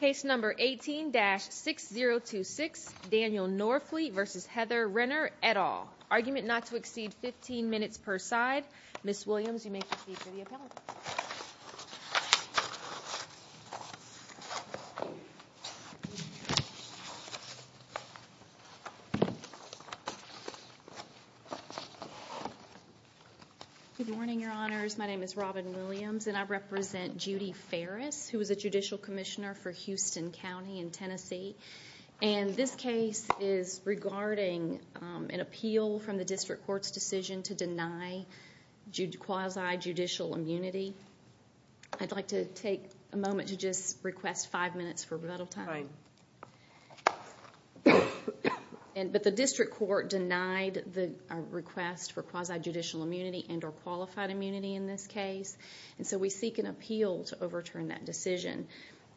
Case number 18-6026 Daniel Norfleet v. Heather Renner, et al. Argument not to exceed 15 minutes per side. Ms. Williams, you may proceed to the appellate. Good morning, Your Honors. My name is Robin Williams and I represent Judy Ferris, who is a Judicial Commissioner for Houston County in Tennessee, and this case is regarding an appeal from the District Court's decision to deny quasi-judicial immunity. I'd like to take a moment to just request five minutes for rebuttal time. But the District Court denied the request for quasi-judicial immunity and or qualified immunity in this case, and so we seek an appeal to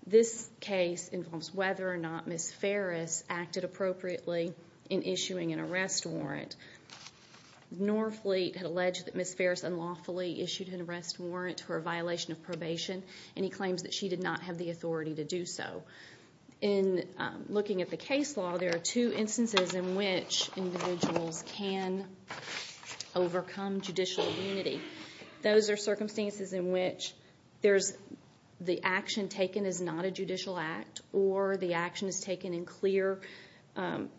This case involves whether or not Ms. Ferris acted appropriately in issuing an arrest warrant. Norfleet had alleged that Ms. Ferris unlawfully issued an arrest warrant for a violation of probation, and he claims that she did not have the authority to do so. In looking at the case law, there are two instances in which individuals can overcome judicial immunity. Those are circumstances in which the action is not a judicial act or the action is taken in clear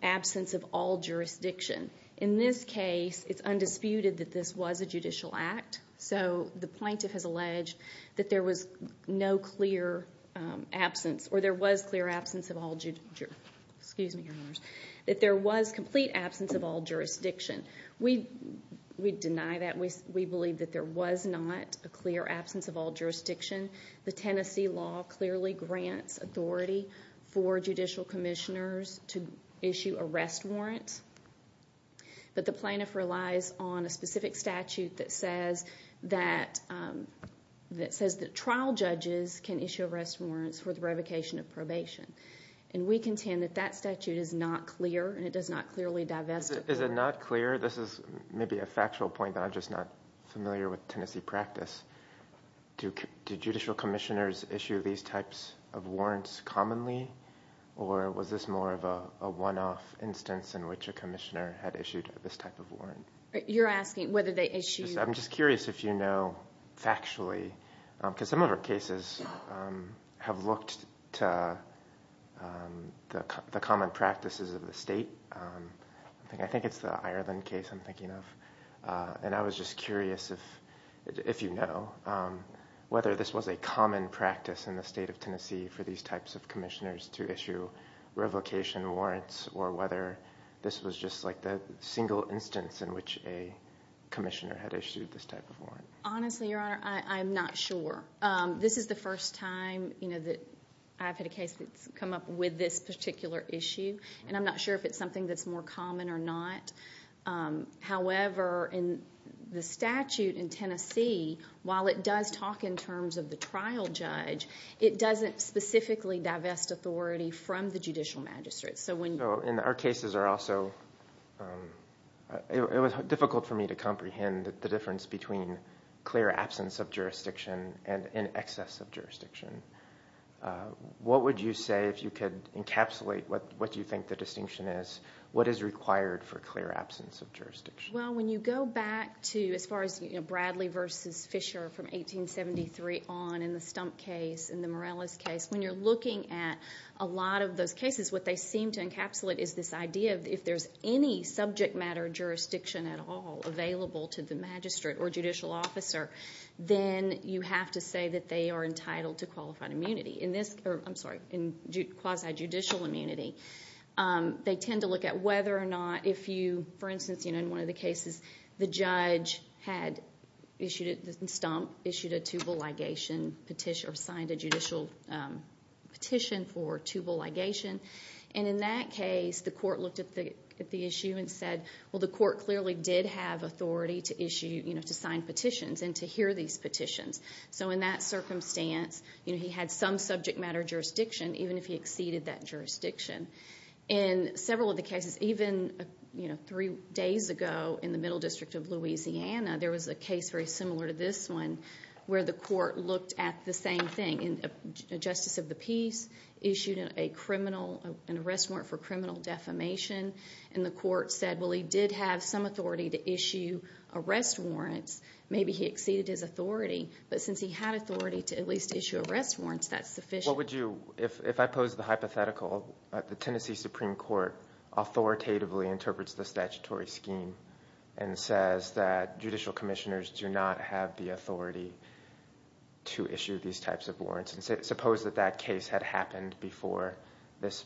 absence of all jurisdiction. In this case, it's undisputed that this was a judicial act, so the plaintiff has alleged that there was no clear absence or there was clear absence of all, excuse me, that there was complete absence of all jurisdiction. We deny that. We believe that there was not a clear absence of jurisdiction. The Tennessee law clearly grants authority for judicial commissioners to issue arrest warrants, but the plaintiff relies on a specific statute that says that trial judges can issue arrest warrants for the revocation of probation, and we contend that that statute is not clear and it does not clearly divest. Is it not clear? This is maybe a factual point that I'm just not familiar with Tennessee practice. Do judicial commissioners issue these types of warrants commonly, or was this more of a one-off instance in which a commissioner had issued this type of warrant? You're asking whether they issued... I'm just curious if you know factually, because some of our cases have looked to the common practices of the state. I think it's the Ireland case I'm thinking of, and I was just curious if you know whether this was a common practice in the state of Tennessee for these types of commissioners to issue revocation warrants, or whether this was just like the single instance in which a commissioner had issued this type of warrant. Honestly, Your Honor, I'm not sure. This is the first time that I've had a case that's come up with this particular issue, and I'm not sure if it's something that's more common or not. However, in the statute in Tennessee, while it does talk in terms of the trial judge, it doesn't specifically divest authority from the judicial magistrate. So when... So in our cases are also... It was difficult for me to comprehend the difference between clear absence of jurisdiction and in excess of jurisdiction. What would you say, if you could encapsulate what you think the distinction is, what is required for clear absence of jurisdiction? Well, when you go back to, as far as Bradley v. Fisher from 1873 on, in the Stump case, in the Morales case, when you're looking at a lot of those cases, what they seem to encapsulate is this idea of, if there's any subject matter jurisdiction at all available to the magistrate or judicial officer, then you have to say that they are entitled to qualified immunity. In this... I'm sorry, in quasi-judicial immunity, they tend to look at whether or not, if you... For instance, in one of the cases, the judge had issued, in Stump, issued a tubal ligation petition, or signed a judicial petition for tubal ligation. And in that case, the court looked at the issue and said, well, the court clearly did have authority to issue, to sign petitions and to hear these petitions. So in that circumstance, you know, he had some subject matter jurisdiction, even if he exceeded that jurisdiction. In several of the cases, even, you know, three days ago, in the Middle District of Louisiana, there was a case very similar to this one, where the court looked at the same thing. And Justice of the Peace issued a criminal... an arrest warrant for criminal defamation. And the court said, well, he clearly did have some authority to issue arrest warrants. Maybe he exceeded his authority, but since he had authority to at least issue arrest warrants, that's sufficient. What would you... If I pose the hypothetical, the Tennessee Supreme Court authoritatively interprets the statutory scheme and says that judicial commissioners do not have the authority to issue these types of warrants, and suppose that that case had happened before this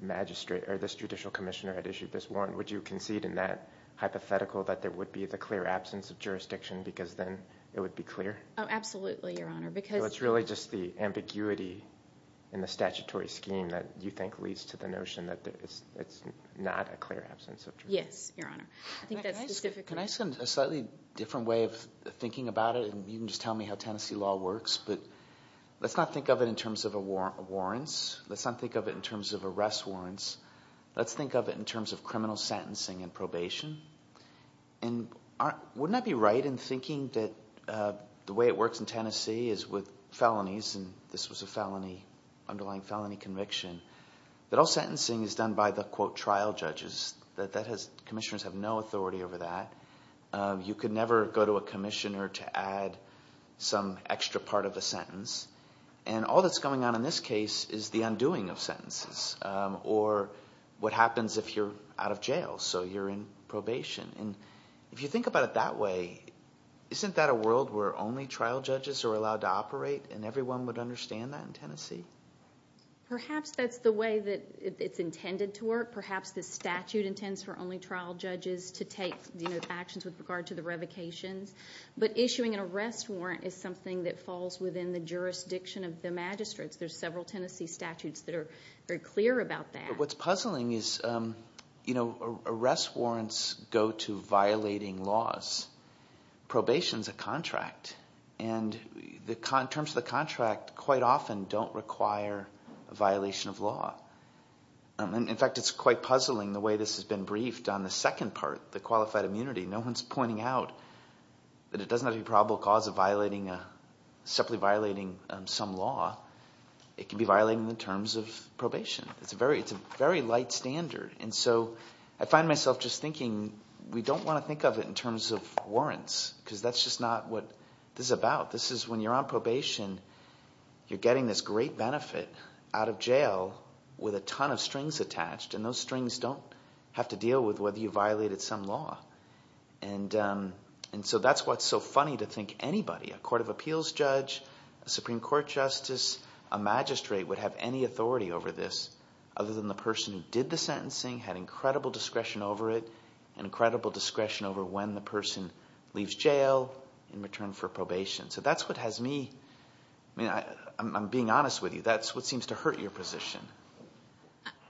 magistrate... Would you concede in that hypothetical that there would be the clear absence of jurisdiction, because then it would be clear? Oh, absolutely, Your Honor, because... So it's really just the ambiguity in the statutory scheme that you think leads to the notion that it's not a clear absence of jurisdiction? Yes, Your Honor. I think that's specific... Can I send a slightly different way of thinking about it? And you can just tell me how Tennessee law works, but let's not think of it in terms of warrants. Let's not think of it in terms of arrest warrants. Let's think of it in terms of criminal sentencing and probation. And wouldn't I be right in thinking that the way it works in Tennessee is with felonies, and this was a underlying felony conviction, that all sentencing is done by the, quote, trial judges, that commissioners have no authority over that. You could never go to a commissioner to add some extra part of a sentence, and all that's going on in this case is the undoing of sentences, or what happens if you're out of jail, so you're in probation. And if you think about it that way, isn't that a world where only trial judges are allowed to operate and everyone would understand that in Tennessee? Perhaps that's the way that it's intended to work. Perhaps the statute intends for only trial judges to take actions with regard to the revocations, but issuing an arrest warrant is something that falls within the jurisdiction of the magistrates. There's several Tennessee statutes that are very clear about that. What's puzzling is, you know, arrest warrants go to violating laws. Probation's a contract, and in terms of the contract, quite often don't require a violation of law. In fact, it's quite puzzling the way this has been briefed on the second part, the qualified immunity. No one's pointing out that it doesn't have to be a probable cause of separately violating some law. It can be violating the terms of probation. It's a very light standard. And so I find myself just thinking, we don't want to think of it in terms of warrants, because that's just not what this is about. This is when you're on probation, you're getting this great benefit out of jail with a ton of strings attached, and those strings don't have to deal with whether you violated some law. And so that's what's so funny to think anybody, a court of appeals judge, a Supreme Court justice, a magistrate, would have any authority over this other than the person who did the sentencing, had incredible discretion over it, and incredible discretion over when the person leaves jail in return for probation. So that's what has me, I mean, I'm being honest with you, that's what seems to hurt your position.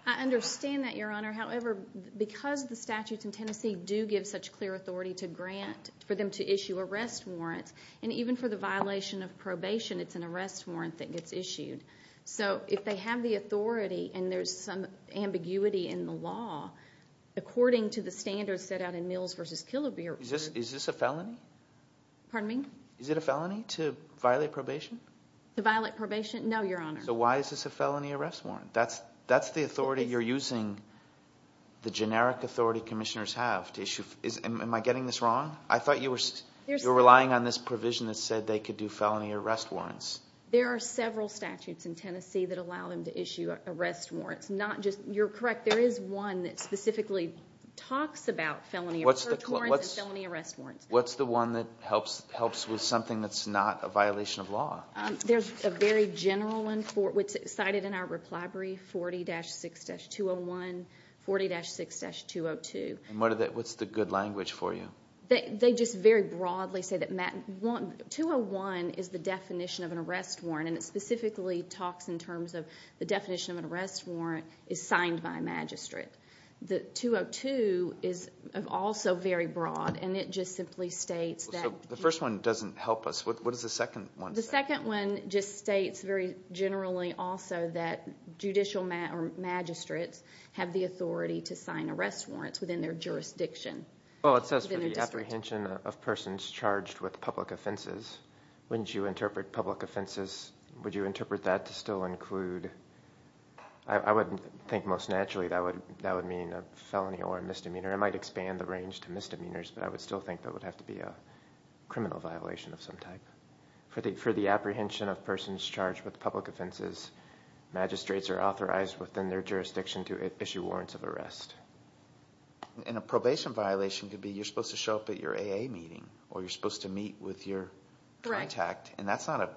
I understand that, Your Honor. However, because the statutes in Tennessee do give such clear authority to grant, for them to issue arrest warrants, and even for the violation of probation, it's an arrest warrant that gets issued. So if they have the authority and there's some ambiguity in the law, according to the standards set out in Mills v. Killebrew... Is this a felony? Pardon me? Is it a felony to violate probation? To violate probation? No, Your Honor. So why is this a felony arrest warrant? That's the authority you're using, the generic authority commissioners have to issue... Am I getting this wrong? I thought you were relying on this provision that said they could do felony arrest warrants. There are several statutes in Tennessee that allow them to issue arrest warrants, not just... You're correct, there is one that specifically talks about felony arrest warrants. What's the one that helps with something that's not a violation of law? There's a very general one, which is cited in our reply brief, 40-6-201, 40-6-202. What's the good language for you? They just very broadly say that 201 is the definition of an arrest warrant, and it specifically talks in terms of the definition of an arrest warrant is signed by a magistrate. The 202 is also very broad, and it just simply states that... The first one doesn't help us. What does the second one say? The second one just states very generally also that judicial magistrates have the authority to sign arrest warrants within their jurisdiction. Well, it says for the apprehension of persons charged with public offenses. Wouldn't you interpret public offenses, would you interpret that to still include... I would think most naturally that would mean a felony or a misdemeanor. It might expand the range to misdemeanors, but I would still think that would have to be a criminal violation of some type. For the apprehension of persons charged with public offenses, magistrates are authorized within their jurisdiction to issue warrants of arrest. And a probation violation could be you're supposed to show up at your AA meeting, or you're supposed to meet with your contact, and that's not a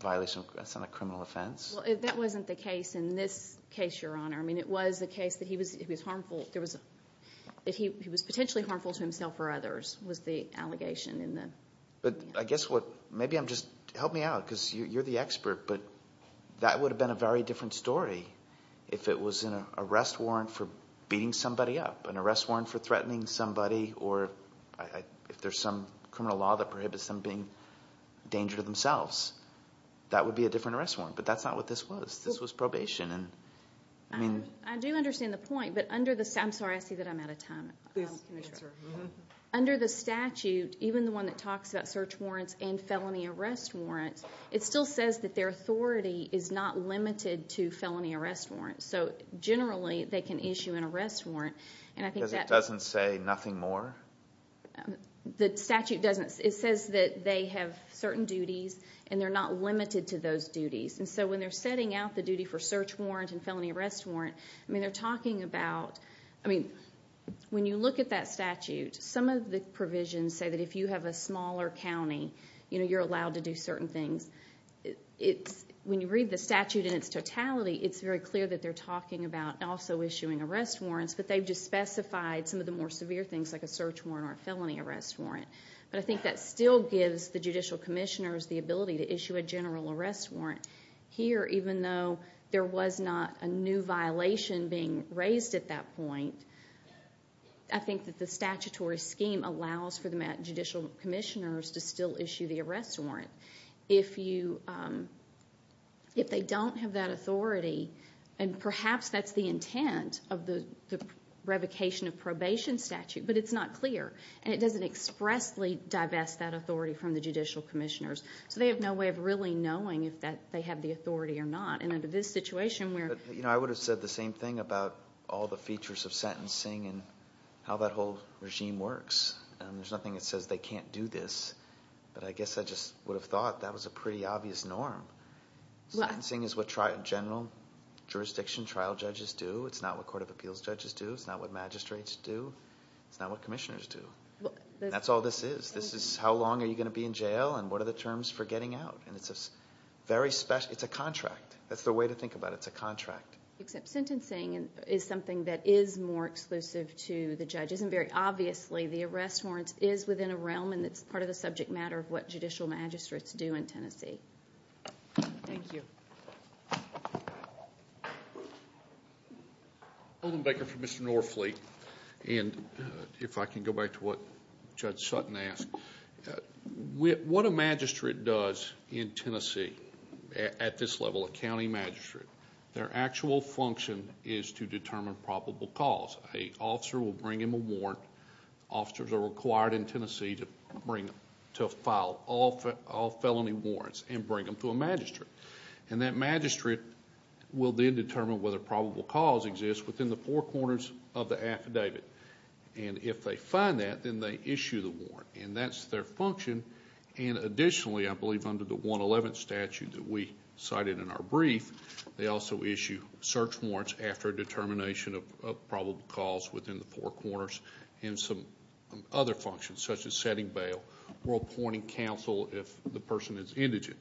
violation, that's not a criminal offense? Well, that wasn't the case in this case, Your Honor. I mean, it was a case that he was potentially harmful to himself or others, was the allegation in the... But I guess what... Maybe I'm just... Help me out, because you're the expert, but that would have been a very different story if it was an arrest warrant for beating somebody up, an arrest warrant for threatening somebody, or if there's some criminal law that prohibits them being a danger to themselves. That would be a different arrest warrant, but that's not what this was. This was probation. I do understand the point, but under the statute... I'm sorry, I see that I'm out of time. Please, go ahead, sir. Under the statute, even the one that talks about search warrants and felony arrest warrants, it still says that their authority is not limited to felony arrest warrants. So, generally, they can issue an arrest warrant, and I think that... Because it doesn't say nothing more? The statute doesn't. It says that they have certain duties, and they're not limited to those duties. And so, when they're setting out the duty for search warrant and felony arrest warrant, I mean, they're talking about... I mean, when you look at that statute, some of the provisions say that if you have a smaller county, you know, you're allowed to do certain things. When you read the statute in its totality, it's very clear that they're talking about also issuing arrest warrants, but they've just specified some of the more severe things, like a search warrant or a felony arrest warrant. But I think that still gives the judicial commissioners the ability to issue a general arrest warrant. Here, even though there was not a new violation being raised at that point, I think that the statutory scheme allows for the judicial commissioners to still issue the arrest warrant. If they don't have that authority, and perhaps that's the intent of the revocation of probation statute, but it's not clear, and it doesn't expressly divest that authority from the judicial commissioners. So they have no way of really knowing if they have the authority or not. And under this situation, we're... But, you know, I would have said the same thing about all the features of sentencing and how that whole regime works. There's nothing that says they can't do this. But I guess I just would have thought that was a pretty obvious norm. Sentencing is what general jurisdiction trial judges do. It's not what court of appeals judges do. It's not what magistrates do. It's not what commissioners do. That's all this is. This is how long are you going to be in jail, and what are the terms for getting out. And it's a very special... It's a contract. That's the way to think about it. It's a contract. Except sentencing is something that is more exclusive to the judges. And very obviously, the arrest warrant is within a realm, and it's part of the subject matter of what judicial magistrates do in Tennessee. Thank you. Holden Baker for Mr. Norfleet. And if I can go back to what Judge Sutton asked. What a magistrate does in Tennessee at this level, a county magistrate, their actual function is to determine probable cause. A officer will bring him a warrant. Officers are required in Tennessee to file all felony warrants and bring them to a magistrate. And that magistrate will then determine whether probable cause exists within the four corners of the affidavit. And if they find that, then they issue the warrant. And that's their function. And additionally, I believe under the 111 statute that we cited in our brief, they also issue search warrants after determination of probable cause within the four corners and some other functions, such as setting bail or appointing counsel if the person is indigent.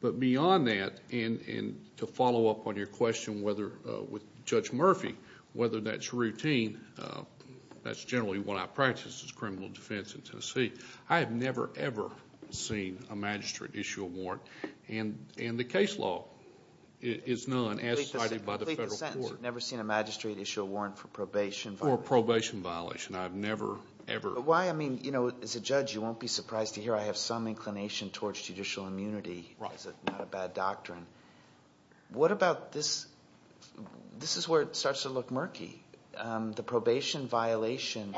But beyond that, and to follow up on your question with Judge Murphy, whether that's routine, that's generally what I practice as criminal defense in Tennessee, I have never, ever seen a magistrate issue a warrant. And the case law is none, as cited by the federal court. Never seen a magistrate issue a warrant for probation. Or a probation violation. I've never, ever. Why, I mean, as a judge, you won't be surprised to hear I have some inclination towards judicial immunity as not a bad doctrine. What about this, this is where it starts to look murky. The probation violation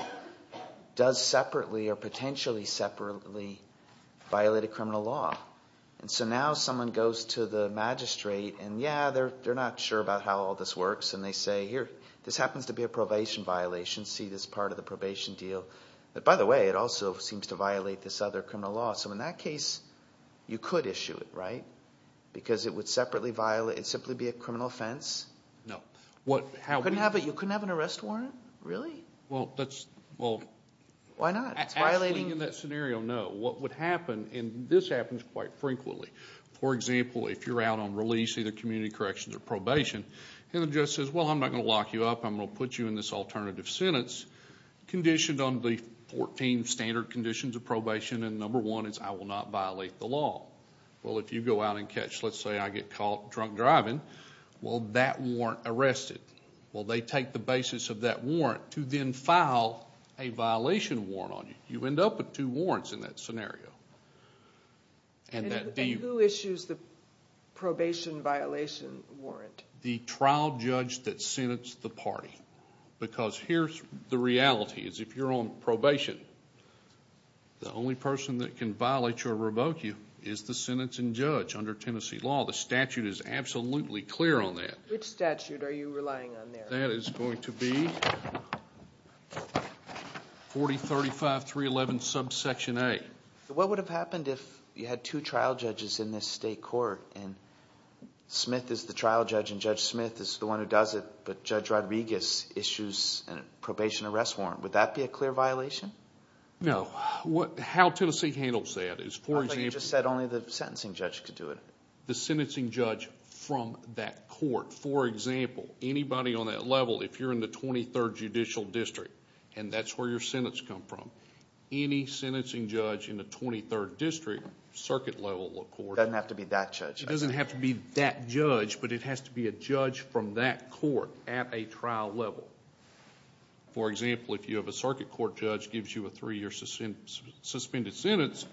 does separately or potentially separately violate a criminal law. And so now someone goes to the magistrate, and yeah, they're not sure about how all this works. And they say, here, this happens to be a probation violation. See this part of the probation deal. But by the way, it also seems to violate this other criminal law. So in that case, you could issue it, right? Because it would separately violate, it would simply be a criminal offense. No. You couldn't have an arrest warrant? Really? Well, that's, well. Why not? Actually, in that scenario, no. What would happen, and this happens quite frequently. For example, if you're out on release, either community corrections or probation, and the judge says, well, I'm not going to lock you up. I'm going to put you in this alternative sentence, conditioned on the 14 standard conditions of probation. And number one is I will not violate the law. Well, if you go out and catch, let's say I get caught drunk driving, well, that warrant arrested. Well, they take the basis of that warrant to then file a violation warrant on you. You end up with two warrants in that scenario. And who issues the probation violation warrant? The trial judge that sentenced the party. Because here's the reality, is if you're on probation, the only person that can violate you or revoke you is the sentencing judge under Tennessee law. The statute is absolutely clear on that. Which statute are you relying on there? That is going to be 4035311 subsection A. What would have happened if you had two trial judges in this state court, and Smith is the trial judge and Judge Smith is the one who does it, but Judge Rodriguez issues a probation arrest warrant? Would that be a clear violation? No. How Tennessee handles that is, for example... I thought you just said only the sentencing judge could do it. The sentencing judge from that court. For example, anybody on that level, if you're in the 23rd Judicial District, and that's where your sentence comes from, any sentencing judge in the 23rd District circuit level of court... It doesn't have to be that judge. It doesn't have to be that judge, but it has to be a judge from that court at a trial level. For example, if you have a circuit court judge gives you a three-year suspended sentence,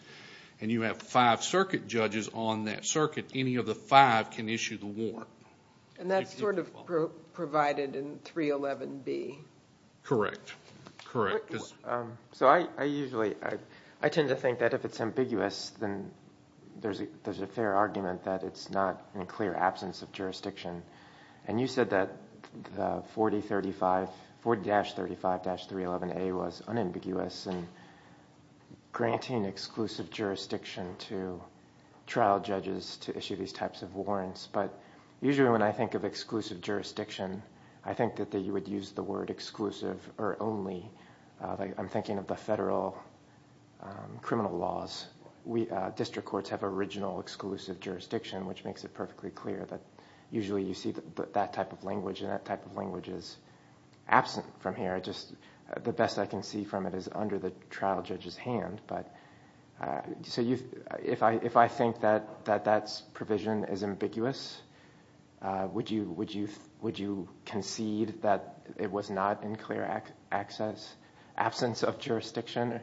and you have five circuit judges on that circuit, any of the five can issue the warrant. And that's sort of provided in 311B. Correct. Correct. So I usually... I tend to think that if it's ambiguous, then there's a fair argument that it's not in clear absence of jurisdiction. And you said that 40-35... 40-35-311A was unambiguous in granting exclusive jurisdiction to trial judges to issue these types of warrants. But usually when I think of exclusive jurisdiction, I think that you would use the word exclusive or only. I'm thinking of the federal criminal laws. District courts have original exclusive jurisdiction, which makes it perfectly clear that usually you see that type of language, and that type of language is absent from here. The best I can see from it is under the trial judge's hand. So if I think that that provision is ambiguous, would you concede that it was not in clear absence of jurisdiction?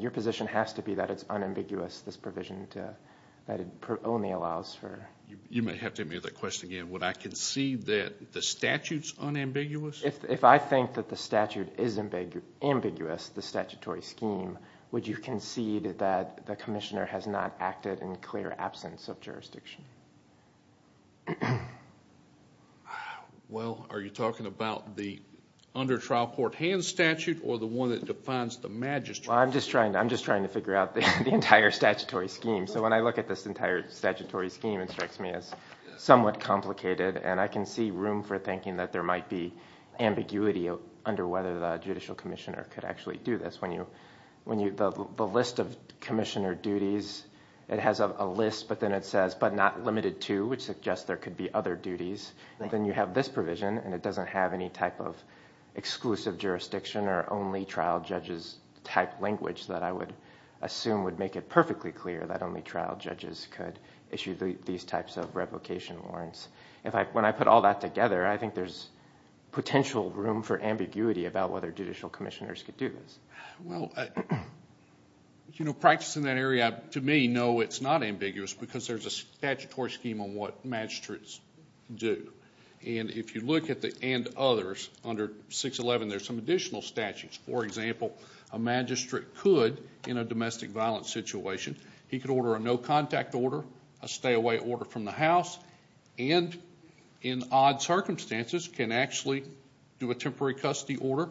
Your position has to be that it's unambiguous, this provision, that it only allows for... You may have to ask me that question again. Would I concede that the statute's unambiguous? If I think that the statute is ambiguous, the statutory scheme, would you concede that the commissioner has not acted in clear absence of jurisdiction? Well, are you talking about the under trial court hand statute or the one that defines the magistrate? I'm just trying to figure out the entire statutory scheme. So when I look at this entire statutory scheme, it strikes me as somewhat complicated, and I can see room for thinking that there might be ambiguity under whether the judicial commissioner could actually do this. The list of commissioner duties, it has a list, but then it says, but not limited to, which suggests there could be other duties. Then you have this provision, and it doesn't have any type of exclusive jurisdiction or only trial judges type language that I would assume would make it perfectly clear that only trial judges could issue these types of revocation warrants. When I put all that together, I think there's potential room for ambiguity about whether judicial commissioners could do this. Well, practicing that area, to me, no, it's not ambiguous because there's a statutory scheme on what magistrates do. And if you look at the and others under 611, there's some additional statutes. For example, a magistrate could, in a domestic violence situation, he could order a no contact order, a stay away order from the house, and in odd circumstances can actually do a temporary custody order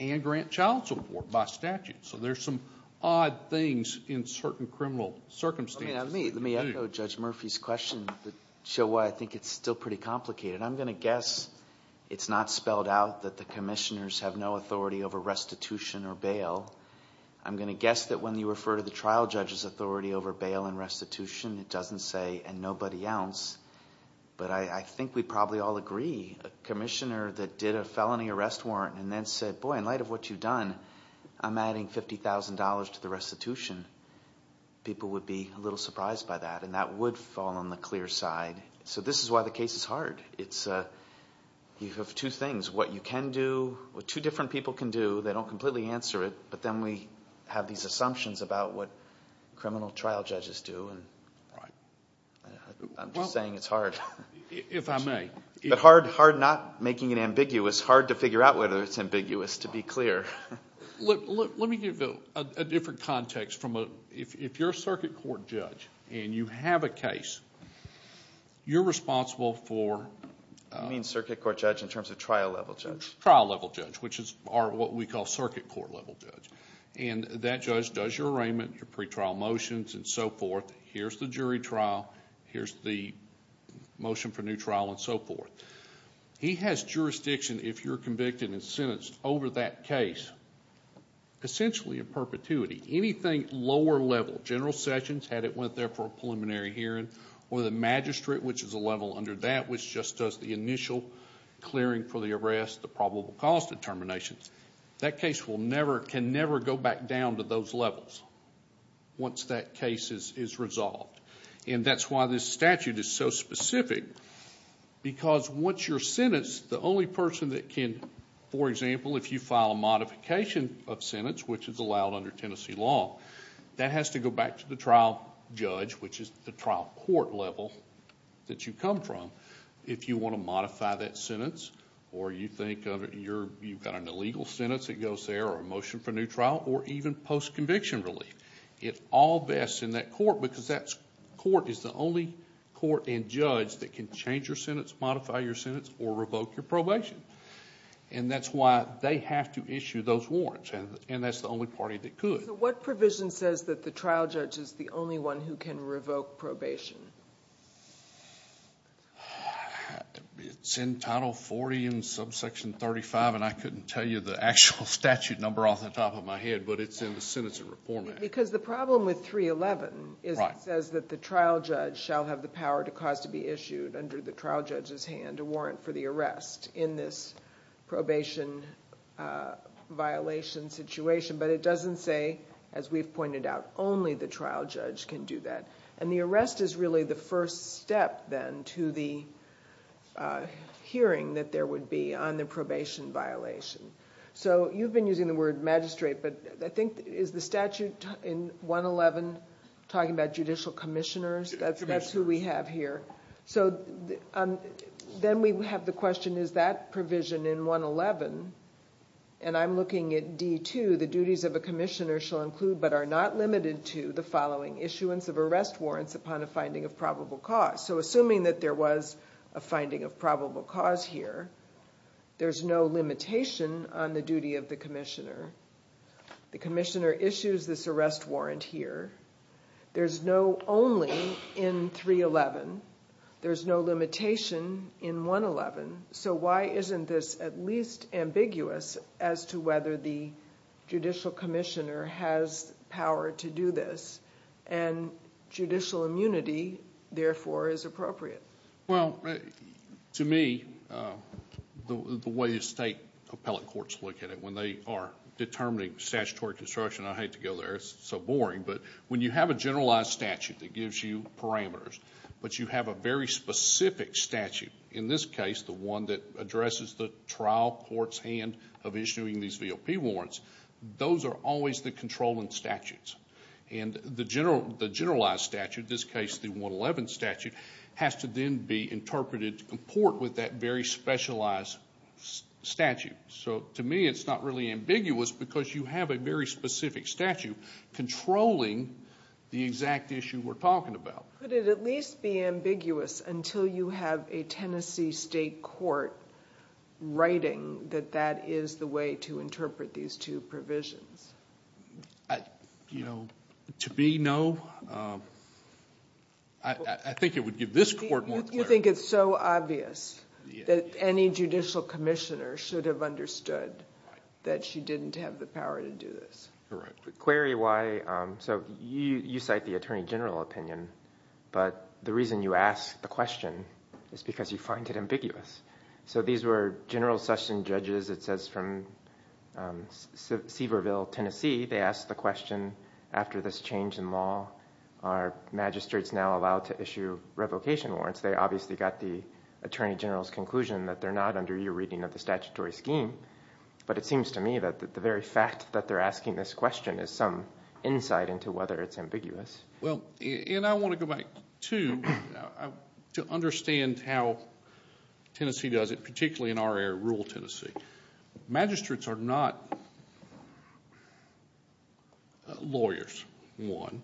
and grant child support by statute. So there's some odd things in certain criminal circumstances. Let me echo Judge Murphy's question to show why I think it's still pretty complicated. I'm going to guess it's not spelled out that the commissioners have no authority over restitution or bail. I'm going to guess that when you refer to the trial judge's authority over bail and restitution, it doesn't say, and nobody else, but I think we probably all agree. A commissioner that did a felony arrest warrant and then said, boy, in light of what you've done, I'm adding $50,000 to the restitution, people would be a little surprised by that, and that would fall on the clear side. So this is why the case is hard. You have two things, what you can do, what two different people can do. They don't completely answer it, but then we have these assumptions about what criminal trial judges do. I'm just saying it's hard. If I may. But hard not making it ambiguous, hard to figure out whether it's ambiguous, to be clear. Let me give a different context. If you're a circuit court judge and you have a case, you're responsible for... You mean circuit court judge in terms of trial-level judge. Trial-level judge, which is what we call circuit court-level judge. And that judge does your arraignment, your pretrial motions, and so forth. Here's the jury trial, here's the motion for new trial, and so forth. He has jurisdiction, if you're convicted and sentenced over that case, essentially in perpetuity. Anything lower level, general sessions, had it went there for a preliminary hearing, or the magistrate, which is a level under that, which just does the initial clearing for the arrest, the probable cause determination, that case can never go back down to those levels once that case is resolved. And that's why this statute is so specific, because once you're sentenced, the only person that can... For example, if you file a modification of sentence, which is allowed under Tennessee law, that has to go back to the trial judge, which is the trial court level that you come from. If you want to modify that sentence, or you think you've got an illegal sentence that goes there, or a motion for new trial, or even post-conviction relief, it's all best in that court, because that court is the only court and judge that can change your sentence, modify your sentence, or revoke your probation. And that's why they have to issue those warrants, and that's the only party that could. So what provision says that the trial judge is the only one who can revoke probation? It's in Title 40 and subsection 35, and I couldn't tell you the actual statute number off the top of my head, but it's in the Sentencing Reform Act. Because the problem with 311 is it says that the trial judge shall have the power to cause to be issued, under the trial judge's hand, a warrant for the arrest in this probation violation situation. But it doesn't say, as we've pointed out, only the trial judge can do that. And the arrest is really the first step, then, to the hearing that there would be on the probation violation. So you've been using the word magistrate, but I think is the statute in 111 talking about judicial commissioners? That's who we have here. So then we have the question, is that provision in 111? And I'm looking at D2, the duties of a commissioner shall include, but are not limited to, the following issuance of arrest warrants upon a finding of probable cause. So assuming that there was a finding of probable cause here, there's no limitation on the duty of the commissioner. The commissioner issues this arrest warrant here. There's no only in 311. There's no limitation in 111. So why isn't this at least ambiguous as to whether the judicial commissioner has power to do this? And judicial immunity, therefore, is appropriate. Well, to me, the way the state appellate courts look at it, when they are determining statutory construction, I hate to go there, it's so boring, but when you have a generalized statute that gives you parameters, but you have a very specific statute, in this case the one that addresses the trial court's hand of issuing these VOP warrants, those are always the controlling statutes. And the generalized statute, in this case the 111 statute, has to then be interpreted to comport with that very specialized statute. So to me it's not really ambiguous because you have a very specific statute controlling the exact issue we're talking about. Could it at least be ambiguous until you have a Tennessee state court writing that that is the way to interpret these two provisions? You know, to me, no. I think it would give this court more clarity. You think it's so obvious that any judicial commissioner should have understood that she didn't have the power to do this. Correct. Query why, so you cite the attorney general opinion, but the reason you ask the question is because you find it ambiguous. So these were general session judges, it says, from Seaverville, Tennessee. They asked the question, after this change in law, are magistrates now allowed to issue revocation warrants? They obviously got the attorney general's conclusion that they're not under your reading of the statutory scheme. But it seems to me that the very fact that they're asking this question is some insight into whether it's ambiguous. Well, and I want to go back, too, to understand how Tennessee does it, particularly in our area, rural Tennessee. Magistrates are not lawyers, one.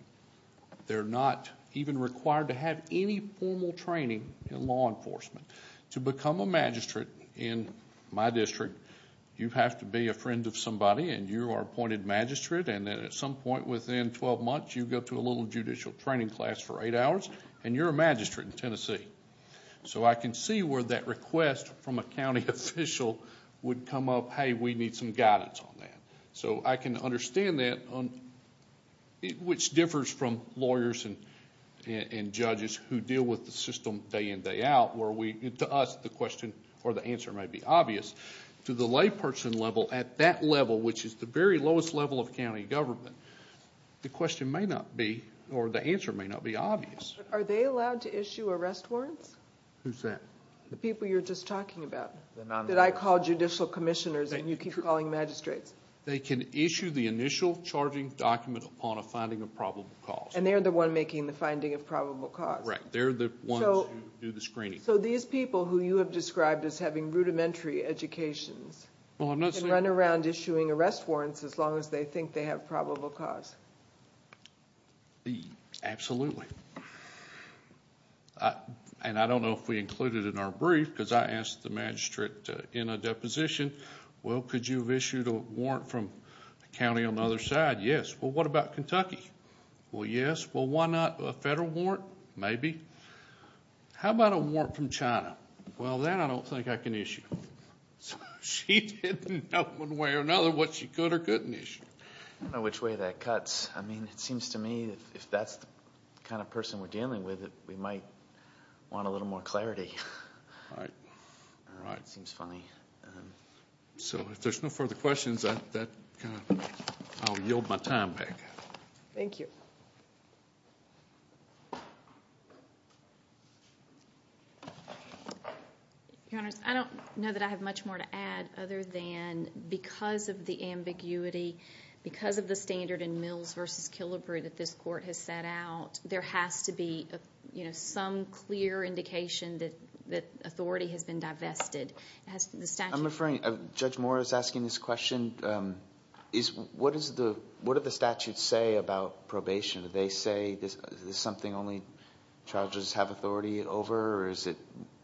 They're not even required to have any formal training in law enforcement. To become a magistrate in my district, you have to be a friend of somebody, and you are appointed magistrate, and then at some point within 12 months, you go to a little judicial training class for eight hours, and you're a magistrate in Tennessee. So I can see where that request from a county official would come up, hey, we need some guidance on that. So I can understand that, which differs from lawyers and judges who deal with the system day in, day out, where to us the question or the answer may be obvious. To the layperson level at that level, which is the very lowest level of county government, the question may not be or the answer may not be obvious. Are they allowed to issue arrest warrants? Who's that? The people you were just talking about that I call judicial commissioners and you keep calling magistrates. They can issue the initial charging document upon a finding of probable cause. And they're the one making the finding of probable cause. Right, they're the ones who do the screening. So these people who you have described as having rudimentary educations can run around issuing arrest warrants as long as they think they have probable cause. Absolutely. And I don't know if we include it in our brief, because I asked the magistrate in a deposition, well, could you have issued a warrant from a county on the other side? Yes. Well, what about Kentucky? Well, yes. Well, why not a federal warrant? Maybe. How about a warrant from China? Well, that I don't think I can issue. She didn't know one way or another what she could or couldn't issue. I don't know which way that cuts. I mean, it seems to me if that's the kind of person we're dealing with, we might want a little more clarity. Right. It seems funny. So if there's no further questions, I'll yield my time back. Thank you. Your Honors, I don't know that I have much more to add other than because of the ambiguity, because of the standard in Mills v. Killebrew that this court has set out, there has to be some clear indication that authority has been divested. I'm referring... Judge Moore is asking this question. What do the statutes say about probation? Do they say this is something only charges have authority over, or is it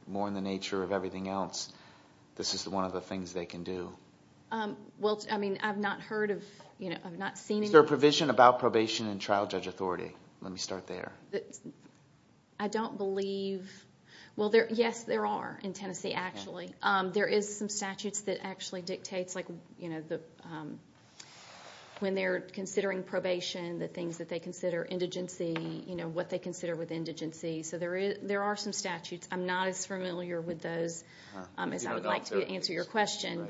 more in the nature of everything else? This is one of the things they can do. Well, I mean, I've not heard of... I've not seen any... Is there a provision about probation in trial judge authority? Let me start there. I don't believe... Well, yes, there are in Tennessee, actually. There is some statutes that actually dictates when they're considering probation, the things that they consider indigency, what they consider with indigency. So there are some statutes. I'm not as familiar with those as I would like to be to answer your question,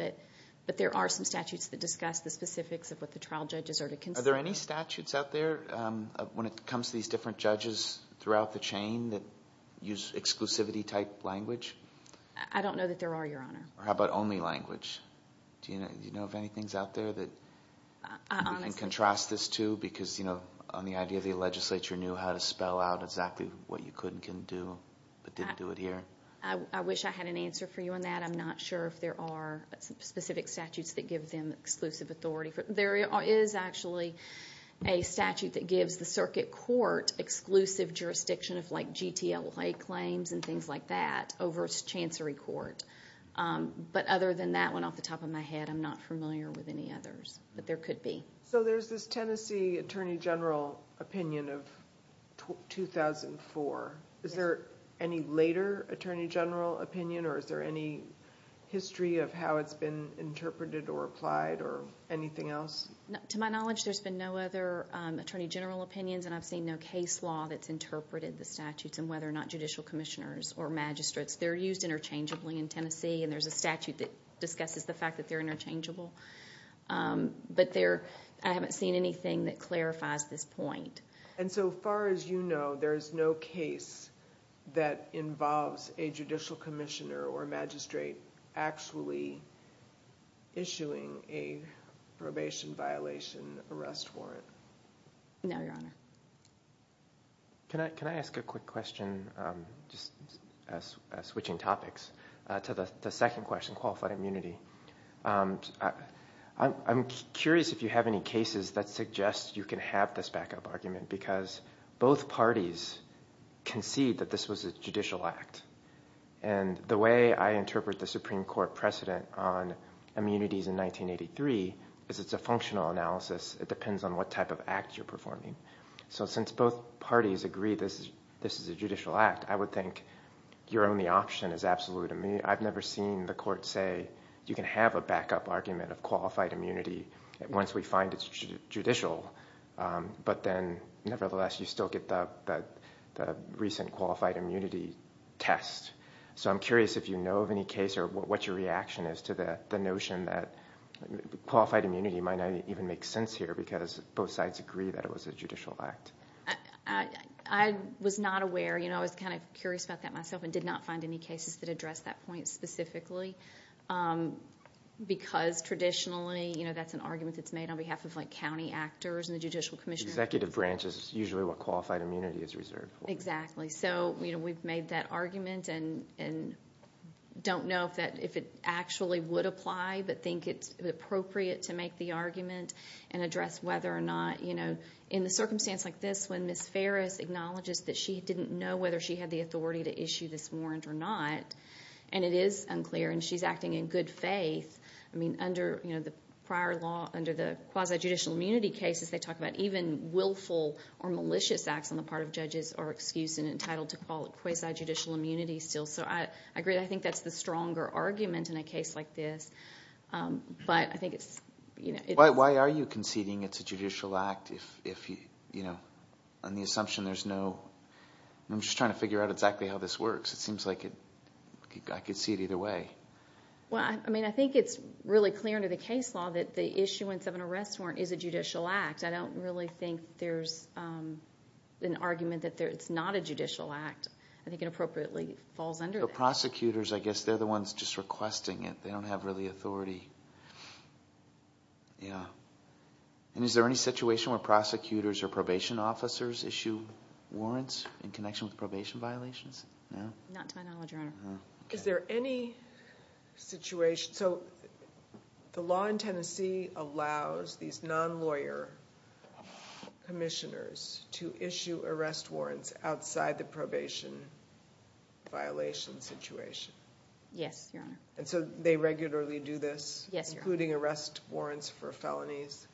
but there are some statutes that discuss the specifics of what the trial judges are to consider. Are there any statutes out there when it comes to these different judges throughout the chain that use exclusivity-type language? I don't know that there are, Your Honor. How about only language? Do you know of anything out there that you can contrast this to? Because, you know, on the idea the legislature knew how to spell out exactly what you could and couldn't do, but didn't do it here. I wish I had an answer for you on that. I'm not sure if there are specific statutes that give them exclusive authority. There is actually a statute that gives the circuit court exclusive jurisdiction of, like, GTLA claims and things like that over chancery court. But other than that one off the top of my head, I'm not familiar with any others. But there could be. So there's this Tennessee Attorney General opinion of 2004. Is there any later Attorney General opinion, or is there any history of how it's been interpreted or applied or anything else? To my knowledge, there's been no other Attorney General opinions, and I've seen no case law that's interpreted the statutes, and whether or not judicial commissioners or magistrates. They're used interchangeably in Tennessee, and there's a statute that discusses the fact that they're interchangeable. But I haven't seen anything that clarifies this point. And so far as you know, there is no case that involves a judicial commissioner or magistrate actually issuing a probation violation arrest warrant? No, Your Honor. Can I ask a quick question, just switching topics, to the second question, qualified immunity? I'm curious if you have any cases that suggest you can have this backup argument because both parties concede that this was a judicial act. And the way I interpret the Supreme Court precedent on immunities in 1983 is it's a functional analysis. It depends on what type of act you're performing. So since both parties agree this is a judicial act, I would think your only option is absolute immunity. I've never seen the court say you can have a backup argument of qualified immunity once we find it's judicial, but then nevertheless you still get the recent qualified immunity test. So I'm curious if you know of any case or what your reaction is to the notion that qualified immunity might not even make sense here because both sides agree that it was a judicial act. I was not aware. I was kind of curious about that myself and did not find any cases that addressed that point specifically because traditionally that's an argument that's made on behalf of county actors and the Judicial Commission. Executive branch is usually what qualified immunity is reserved for. Exactly. So we've made that argument and don't know if it actually would apply but think it's appropriate to make the argument and address whether or not. In a circumstance like this when Ms. Ferris acknowledges that she didn't know whether she had the authority to issue this warrant or not, and it is unclear and she's acting in good faith, I mean under the prior law under the quasi-judicial immunity cases they talk about even willful or malicious acts on the part of judges are excused and entitled to quasi-judicial immunity still. So I agree. I think that's the stronger argument in a case like this, but I think it's... Why are you conceding it's a judicial act on the assumption there's no... I'm just trying to figure out exactly how this works. It seems like I could see it either way. Well, I mean I think it's really clear under the case law that the issuance of an arrest warrant is a judicial act. I don't really think there's an argument that it's not a judicial act. I think it appropriately falls under that. The prosecutors, I guess, they're the ones just requesting it. They don't have really authority. Yeah. And is there any situation where prosecutors or probation officers issue warrants in connection with probation violations? Not to my knowledge, Your Honor. Is there any situation... So the law in Tennessee allows these non-lawyer commissioners to issue arrest warrants outside the probation violation situation? Yes, Your Honor. And so they regularly do this? Yes, Your Honor. Including arrest warrants for felonies?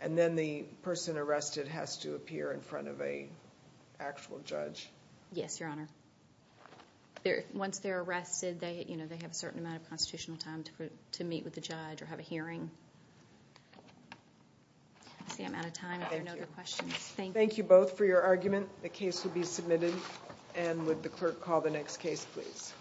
And then the person arrested has to appear in front of an actual judge? Yes, Your Honor. Once they're arrested, they have a certain amount of constitutional time to meet with the judge or have a hearing. That's the amount of time. Thank you. If there are no other questions, thank you. Thank you both for your argument. The case will be submitted. Thank you. And would the clerk call the next case, please?